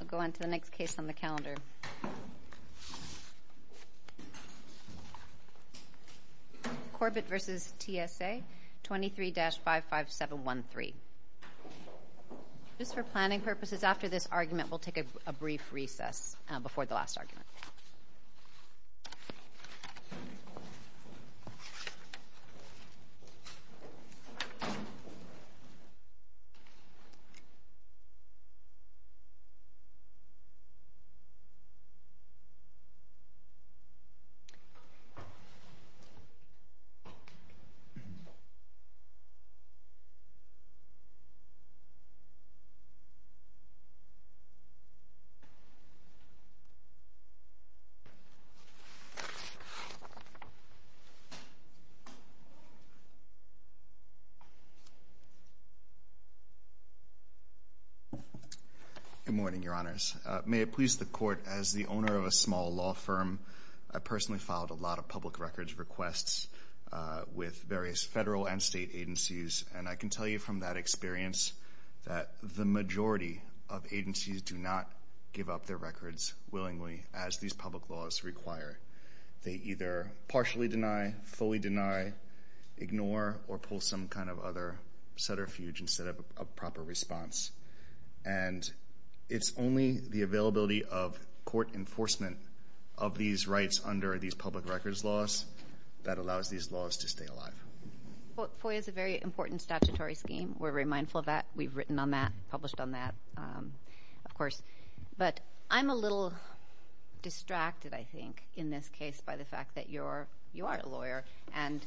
I'll go on to the next case on the calendar. Corbett v. TSA 23-55713. Just for planning purposes, after this argument, we'll take a brief recess before the last argument. Good morning, Your Honors. May it please the Court, as the owner of a small law firm, I personally filed a lot of public records requests with various federal and state agencies, and I can tell you from that experience that the majority of agencies do not give up their records willingly as these public laws require. They either partially deny, fully deny, ignore, or pull some kind of other setter-fuge instead of a proper response. And it's only the availability of court enforcement of these rights under these public records laws that allows these laws to stay alive. FOIA is a very important statutory scheme. We're very mindful of that. We've written on that, published on that, of course. But I'm a little distracted, I think, in this case by the fact that you are a lawyer, and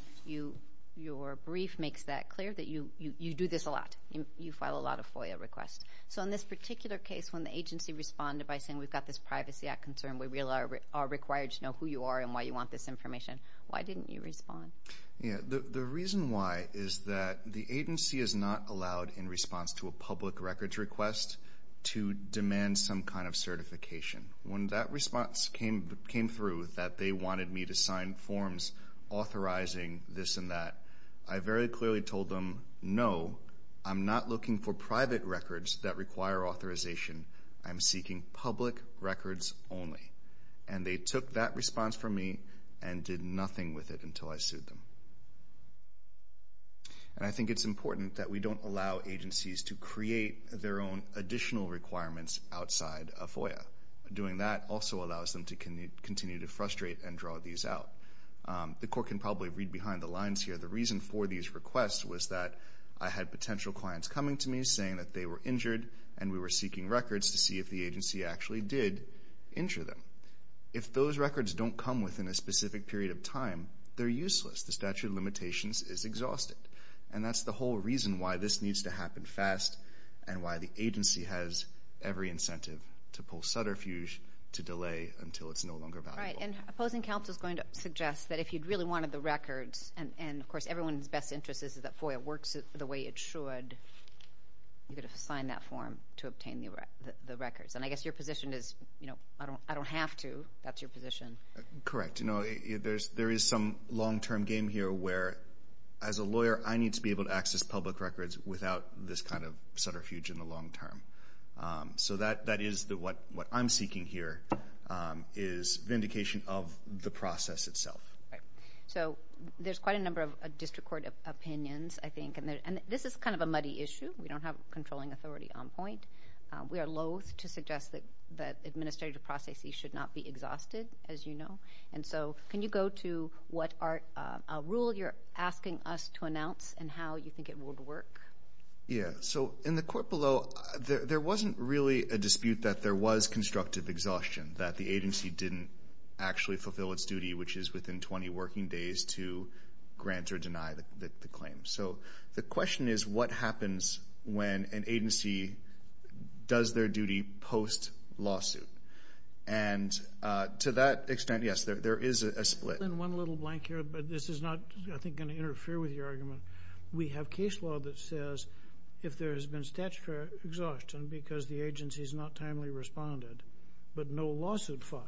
your brief makes that clear, that you do this a lot. You file a lot of FOIA requests. So in this particular case, when the agency responded by saying, we've got this Privacy Act concern, we really are required to know who you are and why you want this information, why didn't you respond? Yeah. The reason why is that the agency is not allowed, in response to a public records request, to demand some kind of certification. When that response came through that they wanted me to sign forms authorizing this and that, I very clearly told them, no, I'm not looking for private records that require authorization. I'm seeking public records only. And they took that response from me and did nothing with it until I sued them. And I think it's important that we don't allow agencies to create their own additional requirements outside of FOIA. Doing that also allows them to continue to frustrate and draw these out. The court can probably read behind the lines here. The reason for these requests was that I had potential clients coming to me saying that they were injured and we were seeking records to see if the agency actually did injure them. If those records don't come within a specific period of time, they're useless. The statute of limitations is exhausted. And that's the whole reason why this needs to happen fast and why the agency has every incentive to pull Sutter Fuge to delay until it's no longer valuable. Right. And opposing counsel is going to suggest that if you'd really wanted the records, and of sign that form to obtain the records. And I guess your position is, you know, I don't have to. That's your position. Correct. You know, there is some long-term game here where, as a lawyer, I need to be able to access public records without this kind of Sutter Fuge in the long term. So that is what I'm seeking here is vindication of the process itself. Right. So there's quite a number of district court opinions, I think. And this is kind of a muddy issue. We don't have a controlling authority on point. We are loathe to suggest that administrative processes should not be exhausted, as you know. And so can you go to what rule you're asking us to announce and how you think it would work? Yeah. So in the court below, there wasn't really a dispute that there was constructive exhaustion, that the agency didn't actually fulfill its duty, which is within 20 working days, to grant or deny the claim. So the question is, what happens when an agency does their duty post-lawsuit? And to that extent, yes, there is a split. One little blank here, but this is not, I think, going to interfere with your argument. We have case law that says if there has been statutory exhaustion because the agency has not timely responded but no lawsuit filed,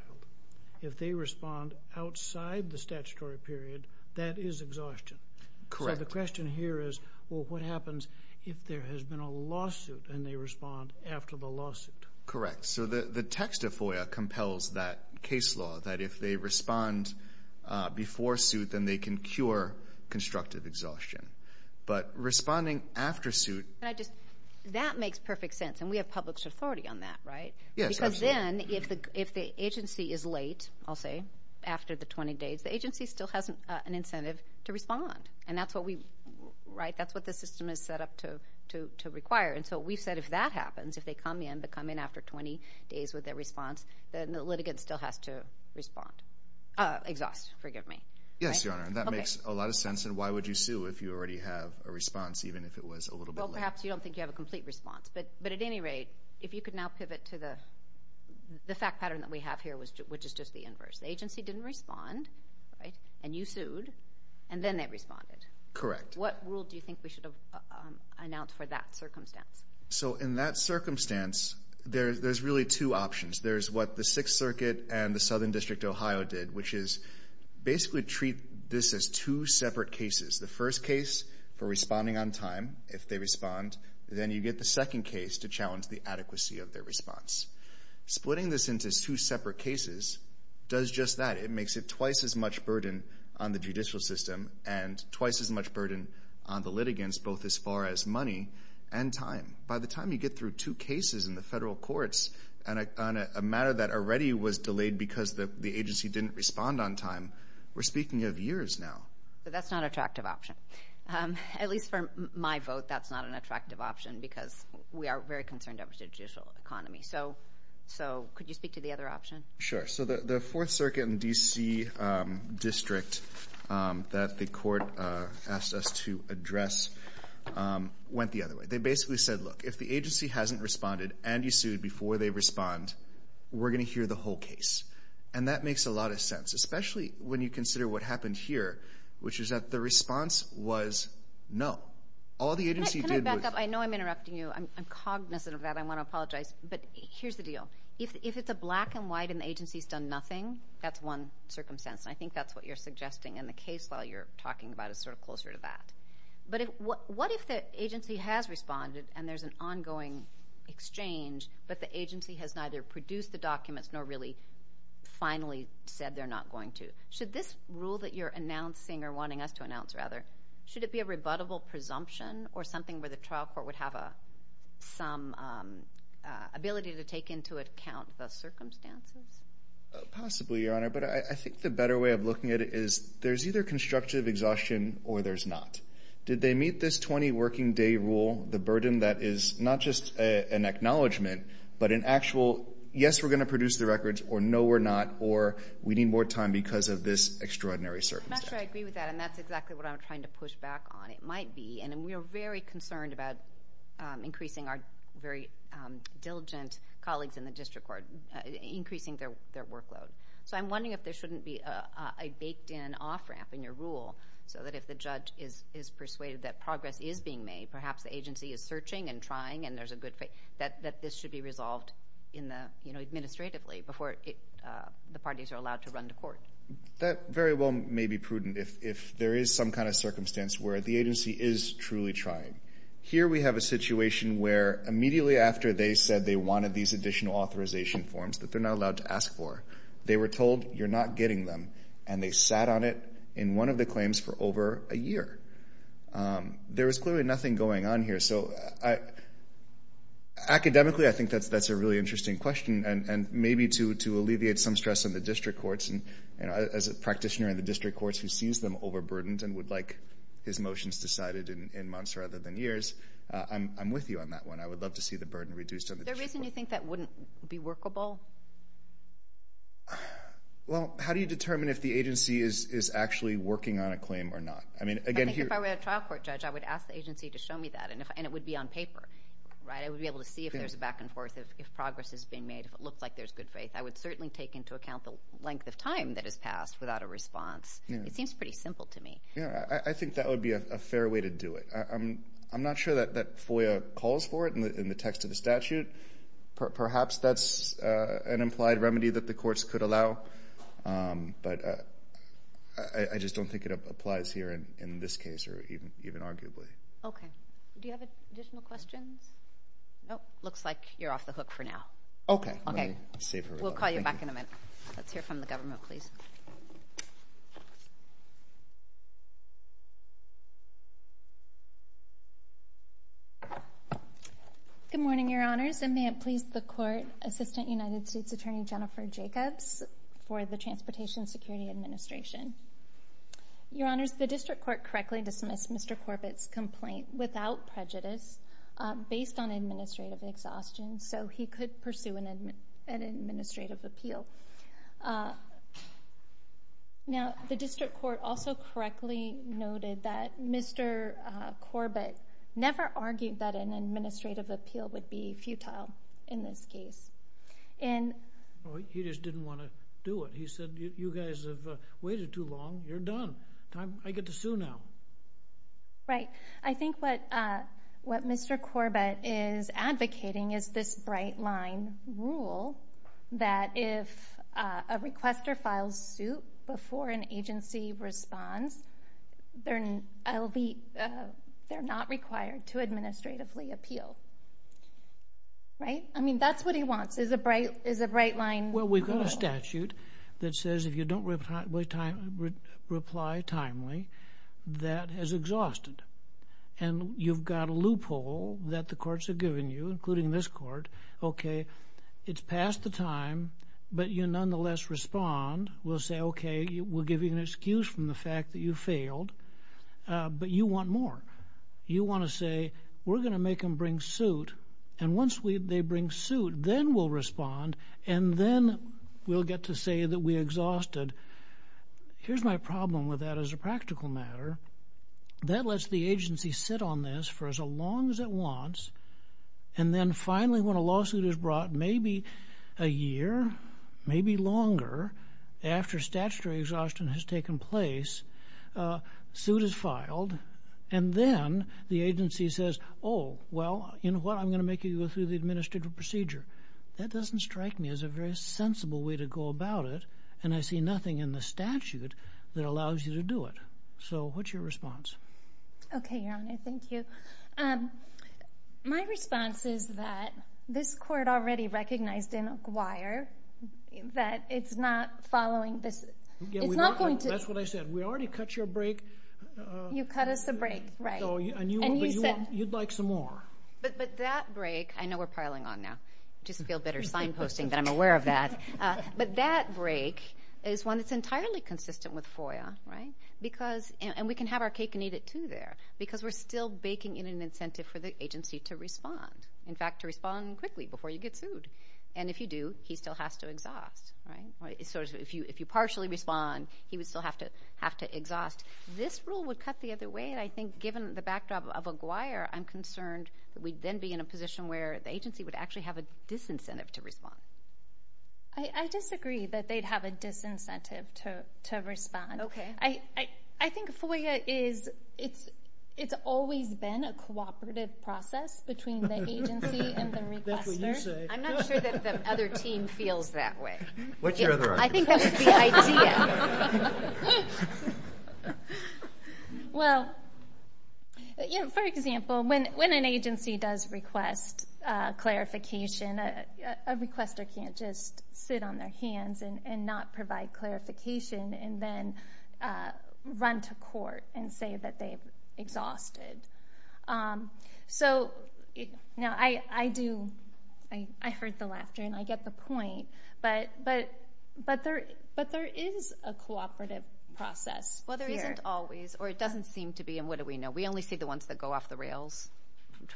if they respond outside the statutory period, that is exhaustion. Correct. So the question here is, well, what happens if there has been a lawsuit and they respond after the lawsuit? Correct. So the text of FOIA compels that case law that if they respond before suit, then they can cure constructive exhaustion. But responding after suit. That makes perfect sense, and we have public authority on that, right? Yes, absolutely. Because then if the agency is late, I'll say, after the 20 days, the agency still has an incentive to respond. And that's what the system is set up to require. And so we've said if that happens, if they come in, they come in after 20 days with their response, then the litigant still has to respond. Exhaust, forgive me. Yes, Your Honor, and that makes a lot of sense. And why would you sue if you already have a response, even if it was a little bit late? Well, perhaps you don't think you have a complete response. But at any rate, if you could now pivot to the fact pattern that we have here, which is just the inverse. The agency didn't respond, right, and you sued, and then they responded. Correct. What rule do you think we should have announced for that circumstance? So in that circumstance, there's really two options. There's what the Sixth Circuit and the Southern District of Ohio did, which is basically treat this as two separate cases. The first case for responding on time, if they respond. Then you get the second case to challenge the adequacy of their response. Splitting this into two separate cases does just that. It makes it twice as much burden on the judicial system and twice as much burden on the litigants, both as far as money and time. By the time you get through two cases in the federal courts on a matter that already was delayed because the agency didn't respond on time, we're speaking of years now. But that's not an attractive option. At least for my vote, that's not an attractive option because we are very concerned about the judicial economy. So could you speak to the other option? Sure. So the Fourth Circuit and D.C. District that the court asked us to address went the other way. They basically said, look, if the agency hasn't responded and you sued before they respond, we're going to hear the whole case. And that makes a lot of sense, especially when you consider what happened here, which is that the response was no. Can I back up? I know I'm interrupting you. I'm cognizant of that. I want to apologize. But here's the deal. If it's a black and white and the agency's done nothing, that's one circumstance. And I think that's what you're suggesting. And the case law you're talking about is sort of closer to that. But what if the agency has responded and there's an ongoing exchange, but the agency has neither produced the documents nor really finally said they're not going to? Should this rule that you're announcing or wanting us to announce, rather, should it be a rebuttable presumption or something where the trial court would have some ability to take into account the circumstances? Possibly, Your Honor. But I think the better way of looking at it is there's either constructive exhaustion or there's not. Did they meet this 20-working-day rule, the burden that is not just an acknowledgement, but an actual yes, we're going to produce the records, or no, we're not, or we need more time because of this extraordinary circumstance? I'm not sure I agree with that, and that's exactly what I'm trying to push back on. It might be. And we are very concerned about increasing our very diligent colleagues in the district court, increasing their workload. So I'm wondering if there shouldn't be a baked-in off-ramp in your rule so that if the judge is persuaded that progress is being made, perhaps the agency is searching and trying and there's a good fit, that this should be resolved administratively before the parties are allowed to run to court. That very well may be prudent if there is some kind of circumstance where the agency is truly trying. Here we have a situation where immediately after they said they wanted these additional authorization forms that they're not allowed to ask for, they were told you're not getting them, and they sat on it in one of the claims for over a year. There was clearly nothing going on here. So academically, I think that's a really interesting question, and maybe to alleviate some stress on the district courts, as a practitioner in the district courts who sees them overburdened and would like his motions decided in months rather than years, I'm with you on that one. I would love to see the burden reduced on the district court. Is there a reason you think that wouldn't be workable? Well, how do you determine if the agency is actually working on a claim or not? I think if I were a trial court judge, I would ask the agency to show me that, and it would be on paper. I would be able to see if there's a back and forth, if progress is being made, if it looks like there's good faith. I would certainly take into account the length of time that has passed without a response. It seems pretty simple to me. I think that would be a fair way to do it. I'm not sure that FOIA calls for it in the text of the statute. Perhaps that's an implied remedy that the courts could allow, but I just don't think it applies here in this case or even arguably. Okay. Do you have additional questions? Nope. Looks like you're off the hook for now. Okay. We'll call you back in a minute. Let's hear from the government, please. Good morning, Your Honors, and may it please the Court Assistant United States Attorney Jennifer Jacobs for the Transportation Security Administration. Your Honors, the district court correctly dismissed Mr. Corbett's complaint without prejudice based on administrative exhaustion, so he could pursue an administrative appeal. Now, the district court also correctly noted that Mr. Corbett never argued that an administrative appeal would be futile in this case. He just didn't want to do it. He said, You guys have waited too long. You're done. I get to sue now. Right. I think what Mr. Corbett is advocating is this bright-line rule that if a requester files suit before an agency responds, they're not required to administratively appeal. Right? I mean, that's what he wants is a bright-line rule. Well, we've got a statute that says if you don't reply timely, that is exhausted, and you've got a loophole that the courts have given you, including this court, okay, it's past the time, but you nonetheless respond. We'll say, okay, we'll give you an excuse from the fact that you failed, but you want more. You want to say we're going to make them bring suit, and once they bring suit, then we'll respond, and then we'll get to say that we exhausted. Here's my problem with that as a practical matter. That lets the agency sit on this for as long as it wants, and then finally when a lawsuit is brought, maybe a year, maybe longer, after statutory exhaustion has taken place, and then the agency says, Oh, well, you know what? I'm going to make you go through the administrative procedure. That doesn't strike me as a very sensible way to go about it, and I see nothing in the statute that allows you to do it. So what's your response? Okay, Your Honor. Thank you. My response is that this court already recognized in Aguiar that it's not following this. It's not going to... That's what I said. We already cut your break. You cut us a break, right. And you said... You'd like some more. But that break, I know we're piling on now. I just feel better signposting that I'm aware of that. But that break is one that's entirely consistent with FOIA, right, and we can have our cake and eat it too there because we're still baking in an incentive for the agency to respond, in fact, to respond quickly before you get sued. And if you do, he still has to exhaust, right. So if you partially respond, he would still have to exhaust. This rule would cut the other way, and I think given the backdrop of Aguiar, I'm concerned that we'd then be in a position where the agency would actually have a disincentive to respond. I disagree that they'd have a disincentive to respond. Okay. I think FOIA is, it's always been a cooperative process between the agency and the requester. That's what you say. I'm not sure that the other team feels that way. I think that's the idea. Well, for example, when an agency does request clarification, a requester can't just sit on their hands and not provide clarification and then run to court and say that they've exhausted. So I do, I heard the laughter and I get the point, but there is a cooperative process here. Well, there isn't always, or it doesn't seem to be, and what do we know? We only see the ones that go off the rails,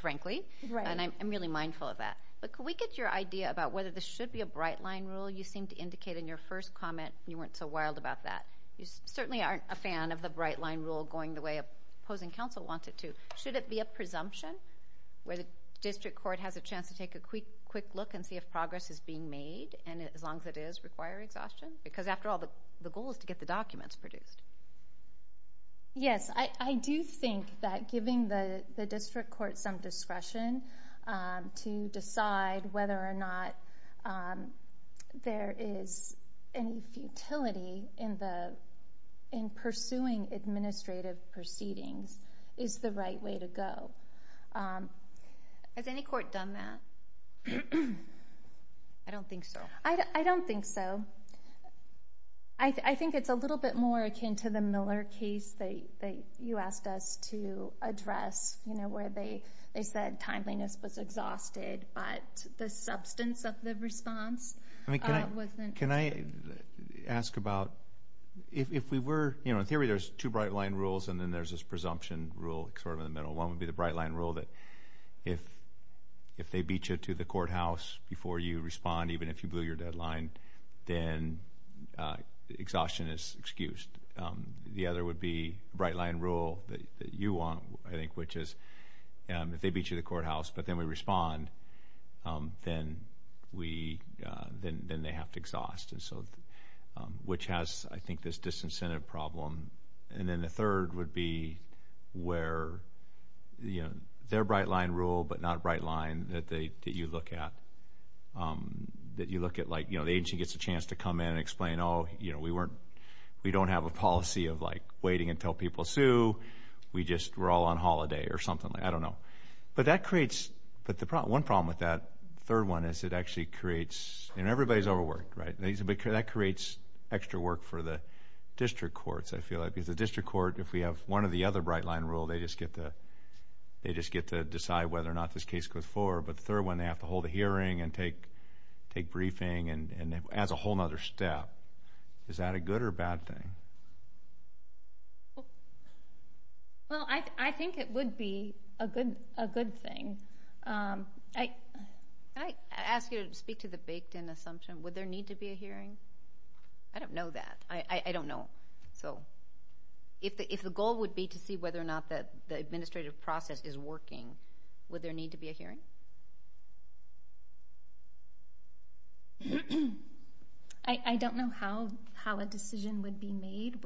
frankly, and I'm really mindful of that. But can we get your idea about whether this should be a bright-line rule? You seemed to indicate in your first comment you weren't so wild about that. You certainly aren't a fan of the bright-line rule going the way opposing counsel wants it to. Should it be a presumption, where the district court has a chance to take a quick look and see if progress is being made, and as long as it is, require exhaustion? Because, after all, the goal is to get the documents produced. Yes, I do think that giving the district court some discretion to decide whether or not there is any futility in pursuing administrative proceedings is the right way to go. Has any court done that? I don't think so. I don't think so. I think it's a little bit more akin to the Miller case that you asked us to address, where they said timeliness was exhausted, but the substance of the response wasn't. Can I ask about, if we were, you know, in theory there's two bright-line rules and then there's this presumption rule sort of in the middle. One would be the bright-line rule that if they beat you to the courthouse before you respond, even if you blew your deadline, then exhaustion is excused. The other would be the bright-line rule that you want, I think, which is if they beat you to the courthouse but then we respond, then they have to exhaust, which has, I think, this disincentive problem. And then the third would be where, you know, their bright-line rule but not a bright-line that you look at, that you look at like, you know, the agency gets a chance to come in and explain, oh, you know, we don't have a policy of, like, waiting until people sue. We just were all on holiday or something. I don't know. But that creates, but one problem with that third one is it actually creates, and everybody's overworked, right? That creates extra work for the district courts, I feel like, because the district court, if we have one or the other bright-line rule, they just get to decide whether or not this case goes forward. But the third one, they have to hold a hearing and take briefing, and that's a whole other step. Is that a good or bad thing? Well, I think it would be a good thing. I ask you to speak to the baked-in assumption. Would there need to be a hearing? I don't know that. I don't know. So if the goal would be to see whether or not the administrative process is working, would there need to be a hearing? I don't know how a decision would be made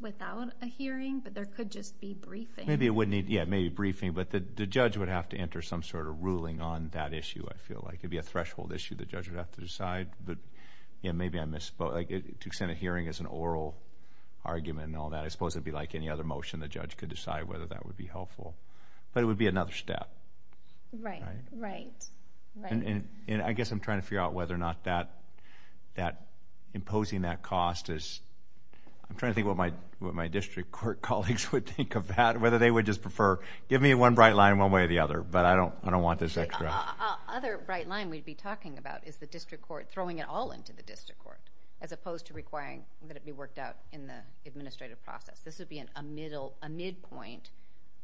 without a hearing, but there could just be briefing. Yeah, maybe briefing, but the judge would have to enter some sort of ruling on that issue, I feel like. It could be a threshold issue the judge would have to decide. Maybe I misspoke. To extend a hearing is an oral argument and all that. I suppose it would be like any other motion. The judge could decide whether that would be helpful. But it would be another step. Right, right. I guess I'm trying to figure out whether or not imposing that cost is – I'm trying to think what my district court colleagues would think of that, whether they would just prefer, give me one bright line one way or the other, but I don't want this extra. The other bright line we'd be talking about is the district court, throwing it all into the district court, as opposed to requiring that it be worked out in the administrative process. This would be a midpoint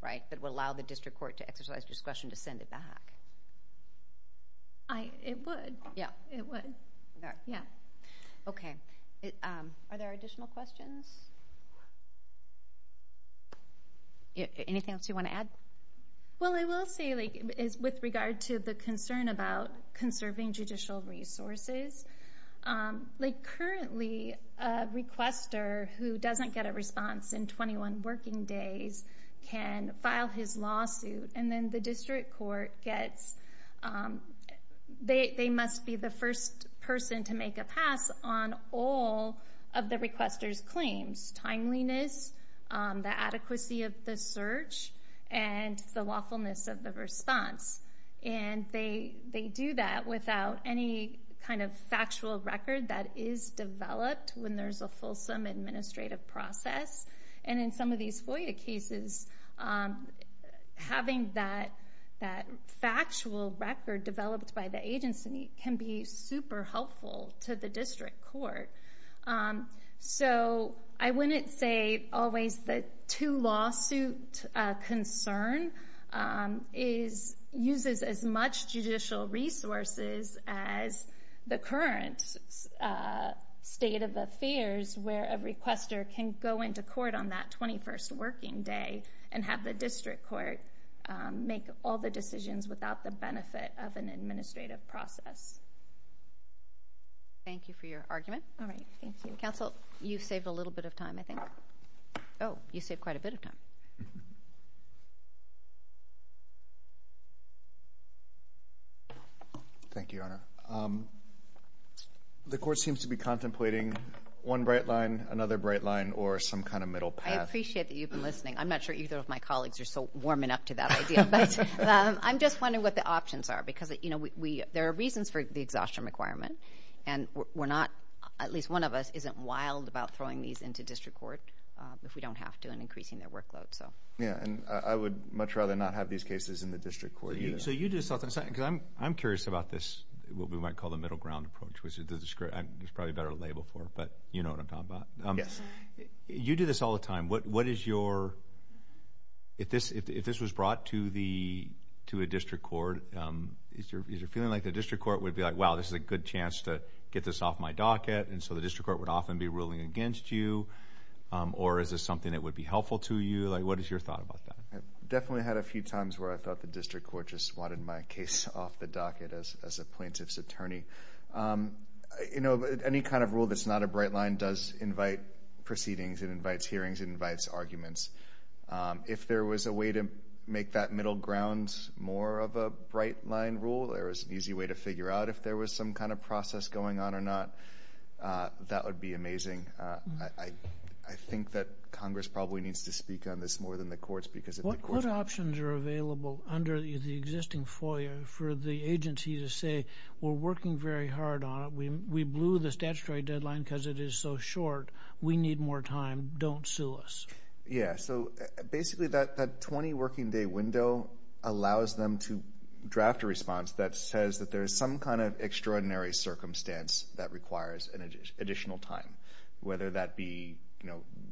that would allow the district court to exercise discretion to send it back. It would. Yeah. It would. Yeah. Okay. Are there additional questions? Anything else you want to add? Well, I will say with regard to the concern about conserving judicial resources, currently a requester who doesn't get a response in 21 working days can file his lawsuit, and then the district court gets – they must be the first person to make a pass on all of the requester's claims, timeliness, the adequacy of the search, and the lawfulness of the response. And they do that without any kind of factual record that is developed when there's a fulsome administrative process. And in some of these FOIA cases, having that factual record developed by the agency can be super helpful to the district court. So I wouldn't say always the two-lawsuit concern uses as much judicial resources as the current state of affairs where a requester can go into court on that 21st working day and have the district court make all the decisions without the benefit of an administrative process. Thank you for your argument. All right. Thank you. Counsel, you saved a little bit of time, I think. Oh, you saved quite a bit of time. Thank you, Your Honor. The court seems to be contemplating one bright line, another bright line, or some kind of middle path. I appreciate that you've been listening. I'm not sure either of my colleagues are so warming up to that idea. But I'm just wondering what the options are because there are reasons for the exhaustion requirement, and at least one of us isn't wild about throwing these into district court if we don't have to and increasing their workload. Yeah, and I would much rather not have these cases in the district court. So you do this often. I'm curious about this, what we might call the middle ground approach, which I'm probably better labeled for, but you know what I'm talking about. Yes. You do this all the time. If this was brought to a district court, is there a feeling like the district court would be like, wow, this is a good chance to get this off my docket, and so the district court would often be ruling against you? Or is this something that would be helpful to you? What is your thought about that? I definitely had a few times where I thought the district court just wanted my case off the docket as a plaintiff's attorney. Any kind of rule that's not a bright line does invite proceedings, it invites hearings, it invites arguments. If there was a way to make that middle ground more of a bright line rule, there was an easy way to figure out if there was some kind of process going on or not, that would be amazing. I think that Congress probably needs to speak on this more than the courts. What options are available under the existing FOIA for the agency to say, we're working very hard on it, we blew the statutory deadline because it is so short, we need more time, don't sue us? Yeah, so basically that 20-working-day window allows them to draft a response that says that there is some kind of extraordinary circumstance that requires additional time, whether that be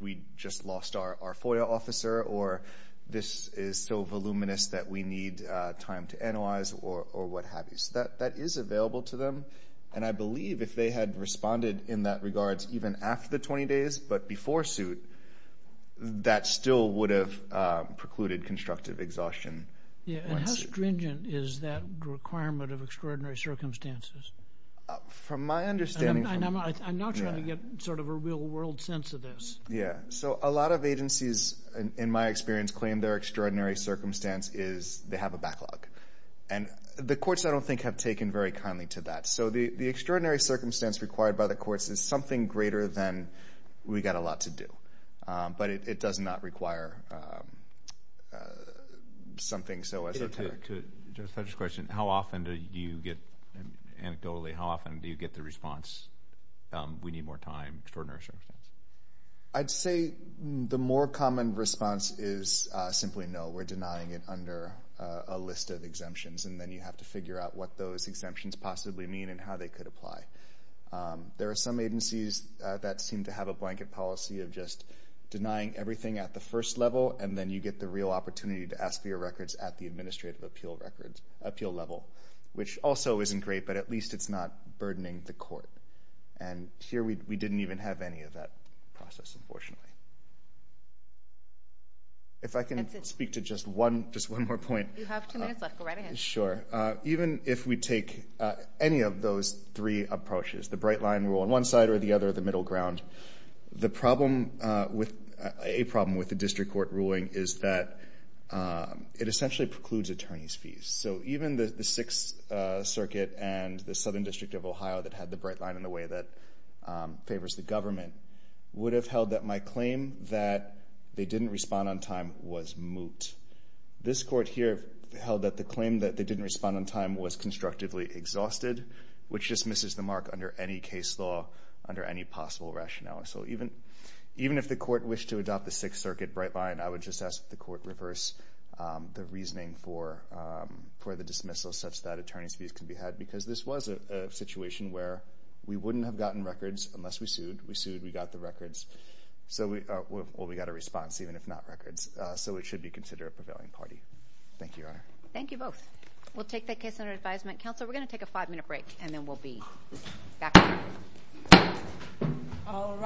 we just lost our FOIA officer or this is so voluminous that we need time to analyze or what have you. So that is available to them. And I believe if they had responded in that regards even after the 20 days but before suit, that still would have precluded constructive exhaustion. Yeah, and how stringent is that requirement of extraordinary circumstances? From my understanding. I'm not trying to get sort of a real-world sense of this. Yeah, so a lot of agencies, in my experience, claim their extraordinary circumstance is they have a backlog. And the courts, I don't think, have taken very kindly to that. So the extraordinary circumstance required by the courts is something greater than we've got a lot to do. But it does not require something so esoteric. To Judge Fletcher's question, how often do you get anecdotally, how often do you get the response, we need more time, extraordinary circumstance? I'd say the more common response is simply no, we're denying it under a list of exemptions, and then you have to figure out what those exemptions possibly mean and how they could apply. There are some agencies that seem to have a blanket policy of just denying everything at the first level, and then you get the real opportunity to ask for your records at the administrative appeal level, which also isn't great, but at least it's not burdening the court. And here we didn't even have any of that process, unfortunately. If I can speak to just one more point. You have two minutes left. Go right ahead. Sure. Even if we take any of those three approaches, the bright line rule on one side or the other, the middle ground, a problem with the district court ruling is that it essentially precludes attorney's fees. So even the Sixth Circuit and the Southern District of Ohio that had the bright line in the way that favors the government would have held that my claim that they didn't respond on time was moot. This court here held that the claim that they didn't respond on time was constructively exhausted, which dismisses the mark under any case law, under any possible rationale. So even if the court wished to adopt the Sixth Circuit bright line, I would just ask that the court reverse the reasoning for the dismissal such that attorney's fees can be had, because this was a situation where we wouldn't have gotten records unless we sued. We sued. We got the records. Well, we got a response, even if not records. So it should be considered a prevailing party. Thank you, Your Honor. Thank you both. We'll take that case under advisement. Counselor, we're going to take a five-minute break, and then we'll be back. All rise.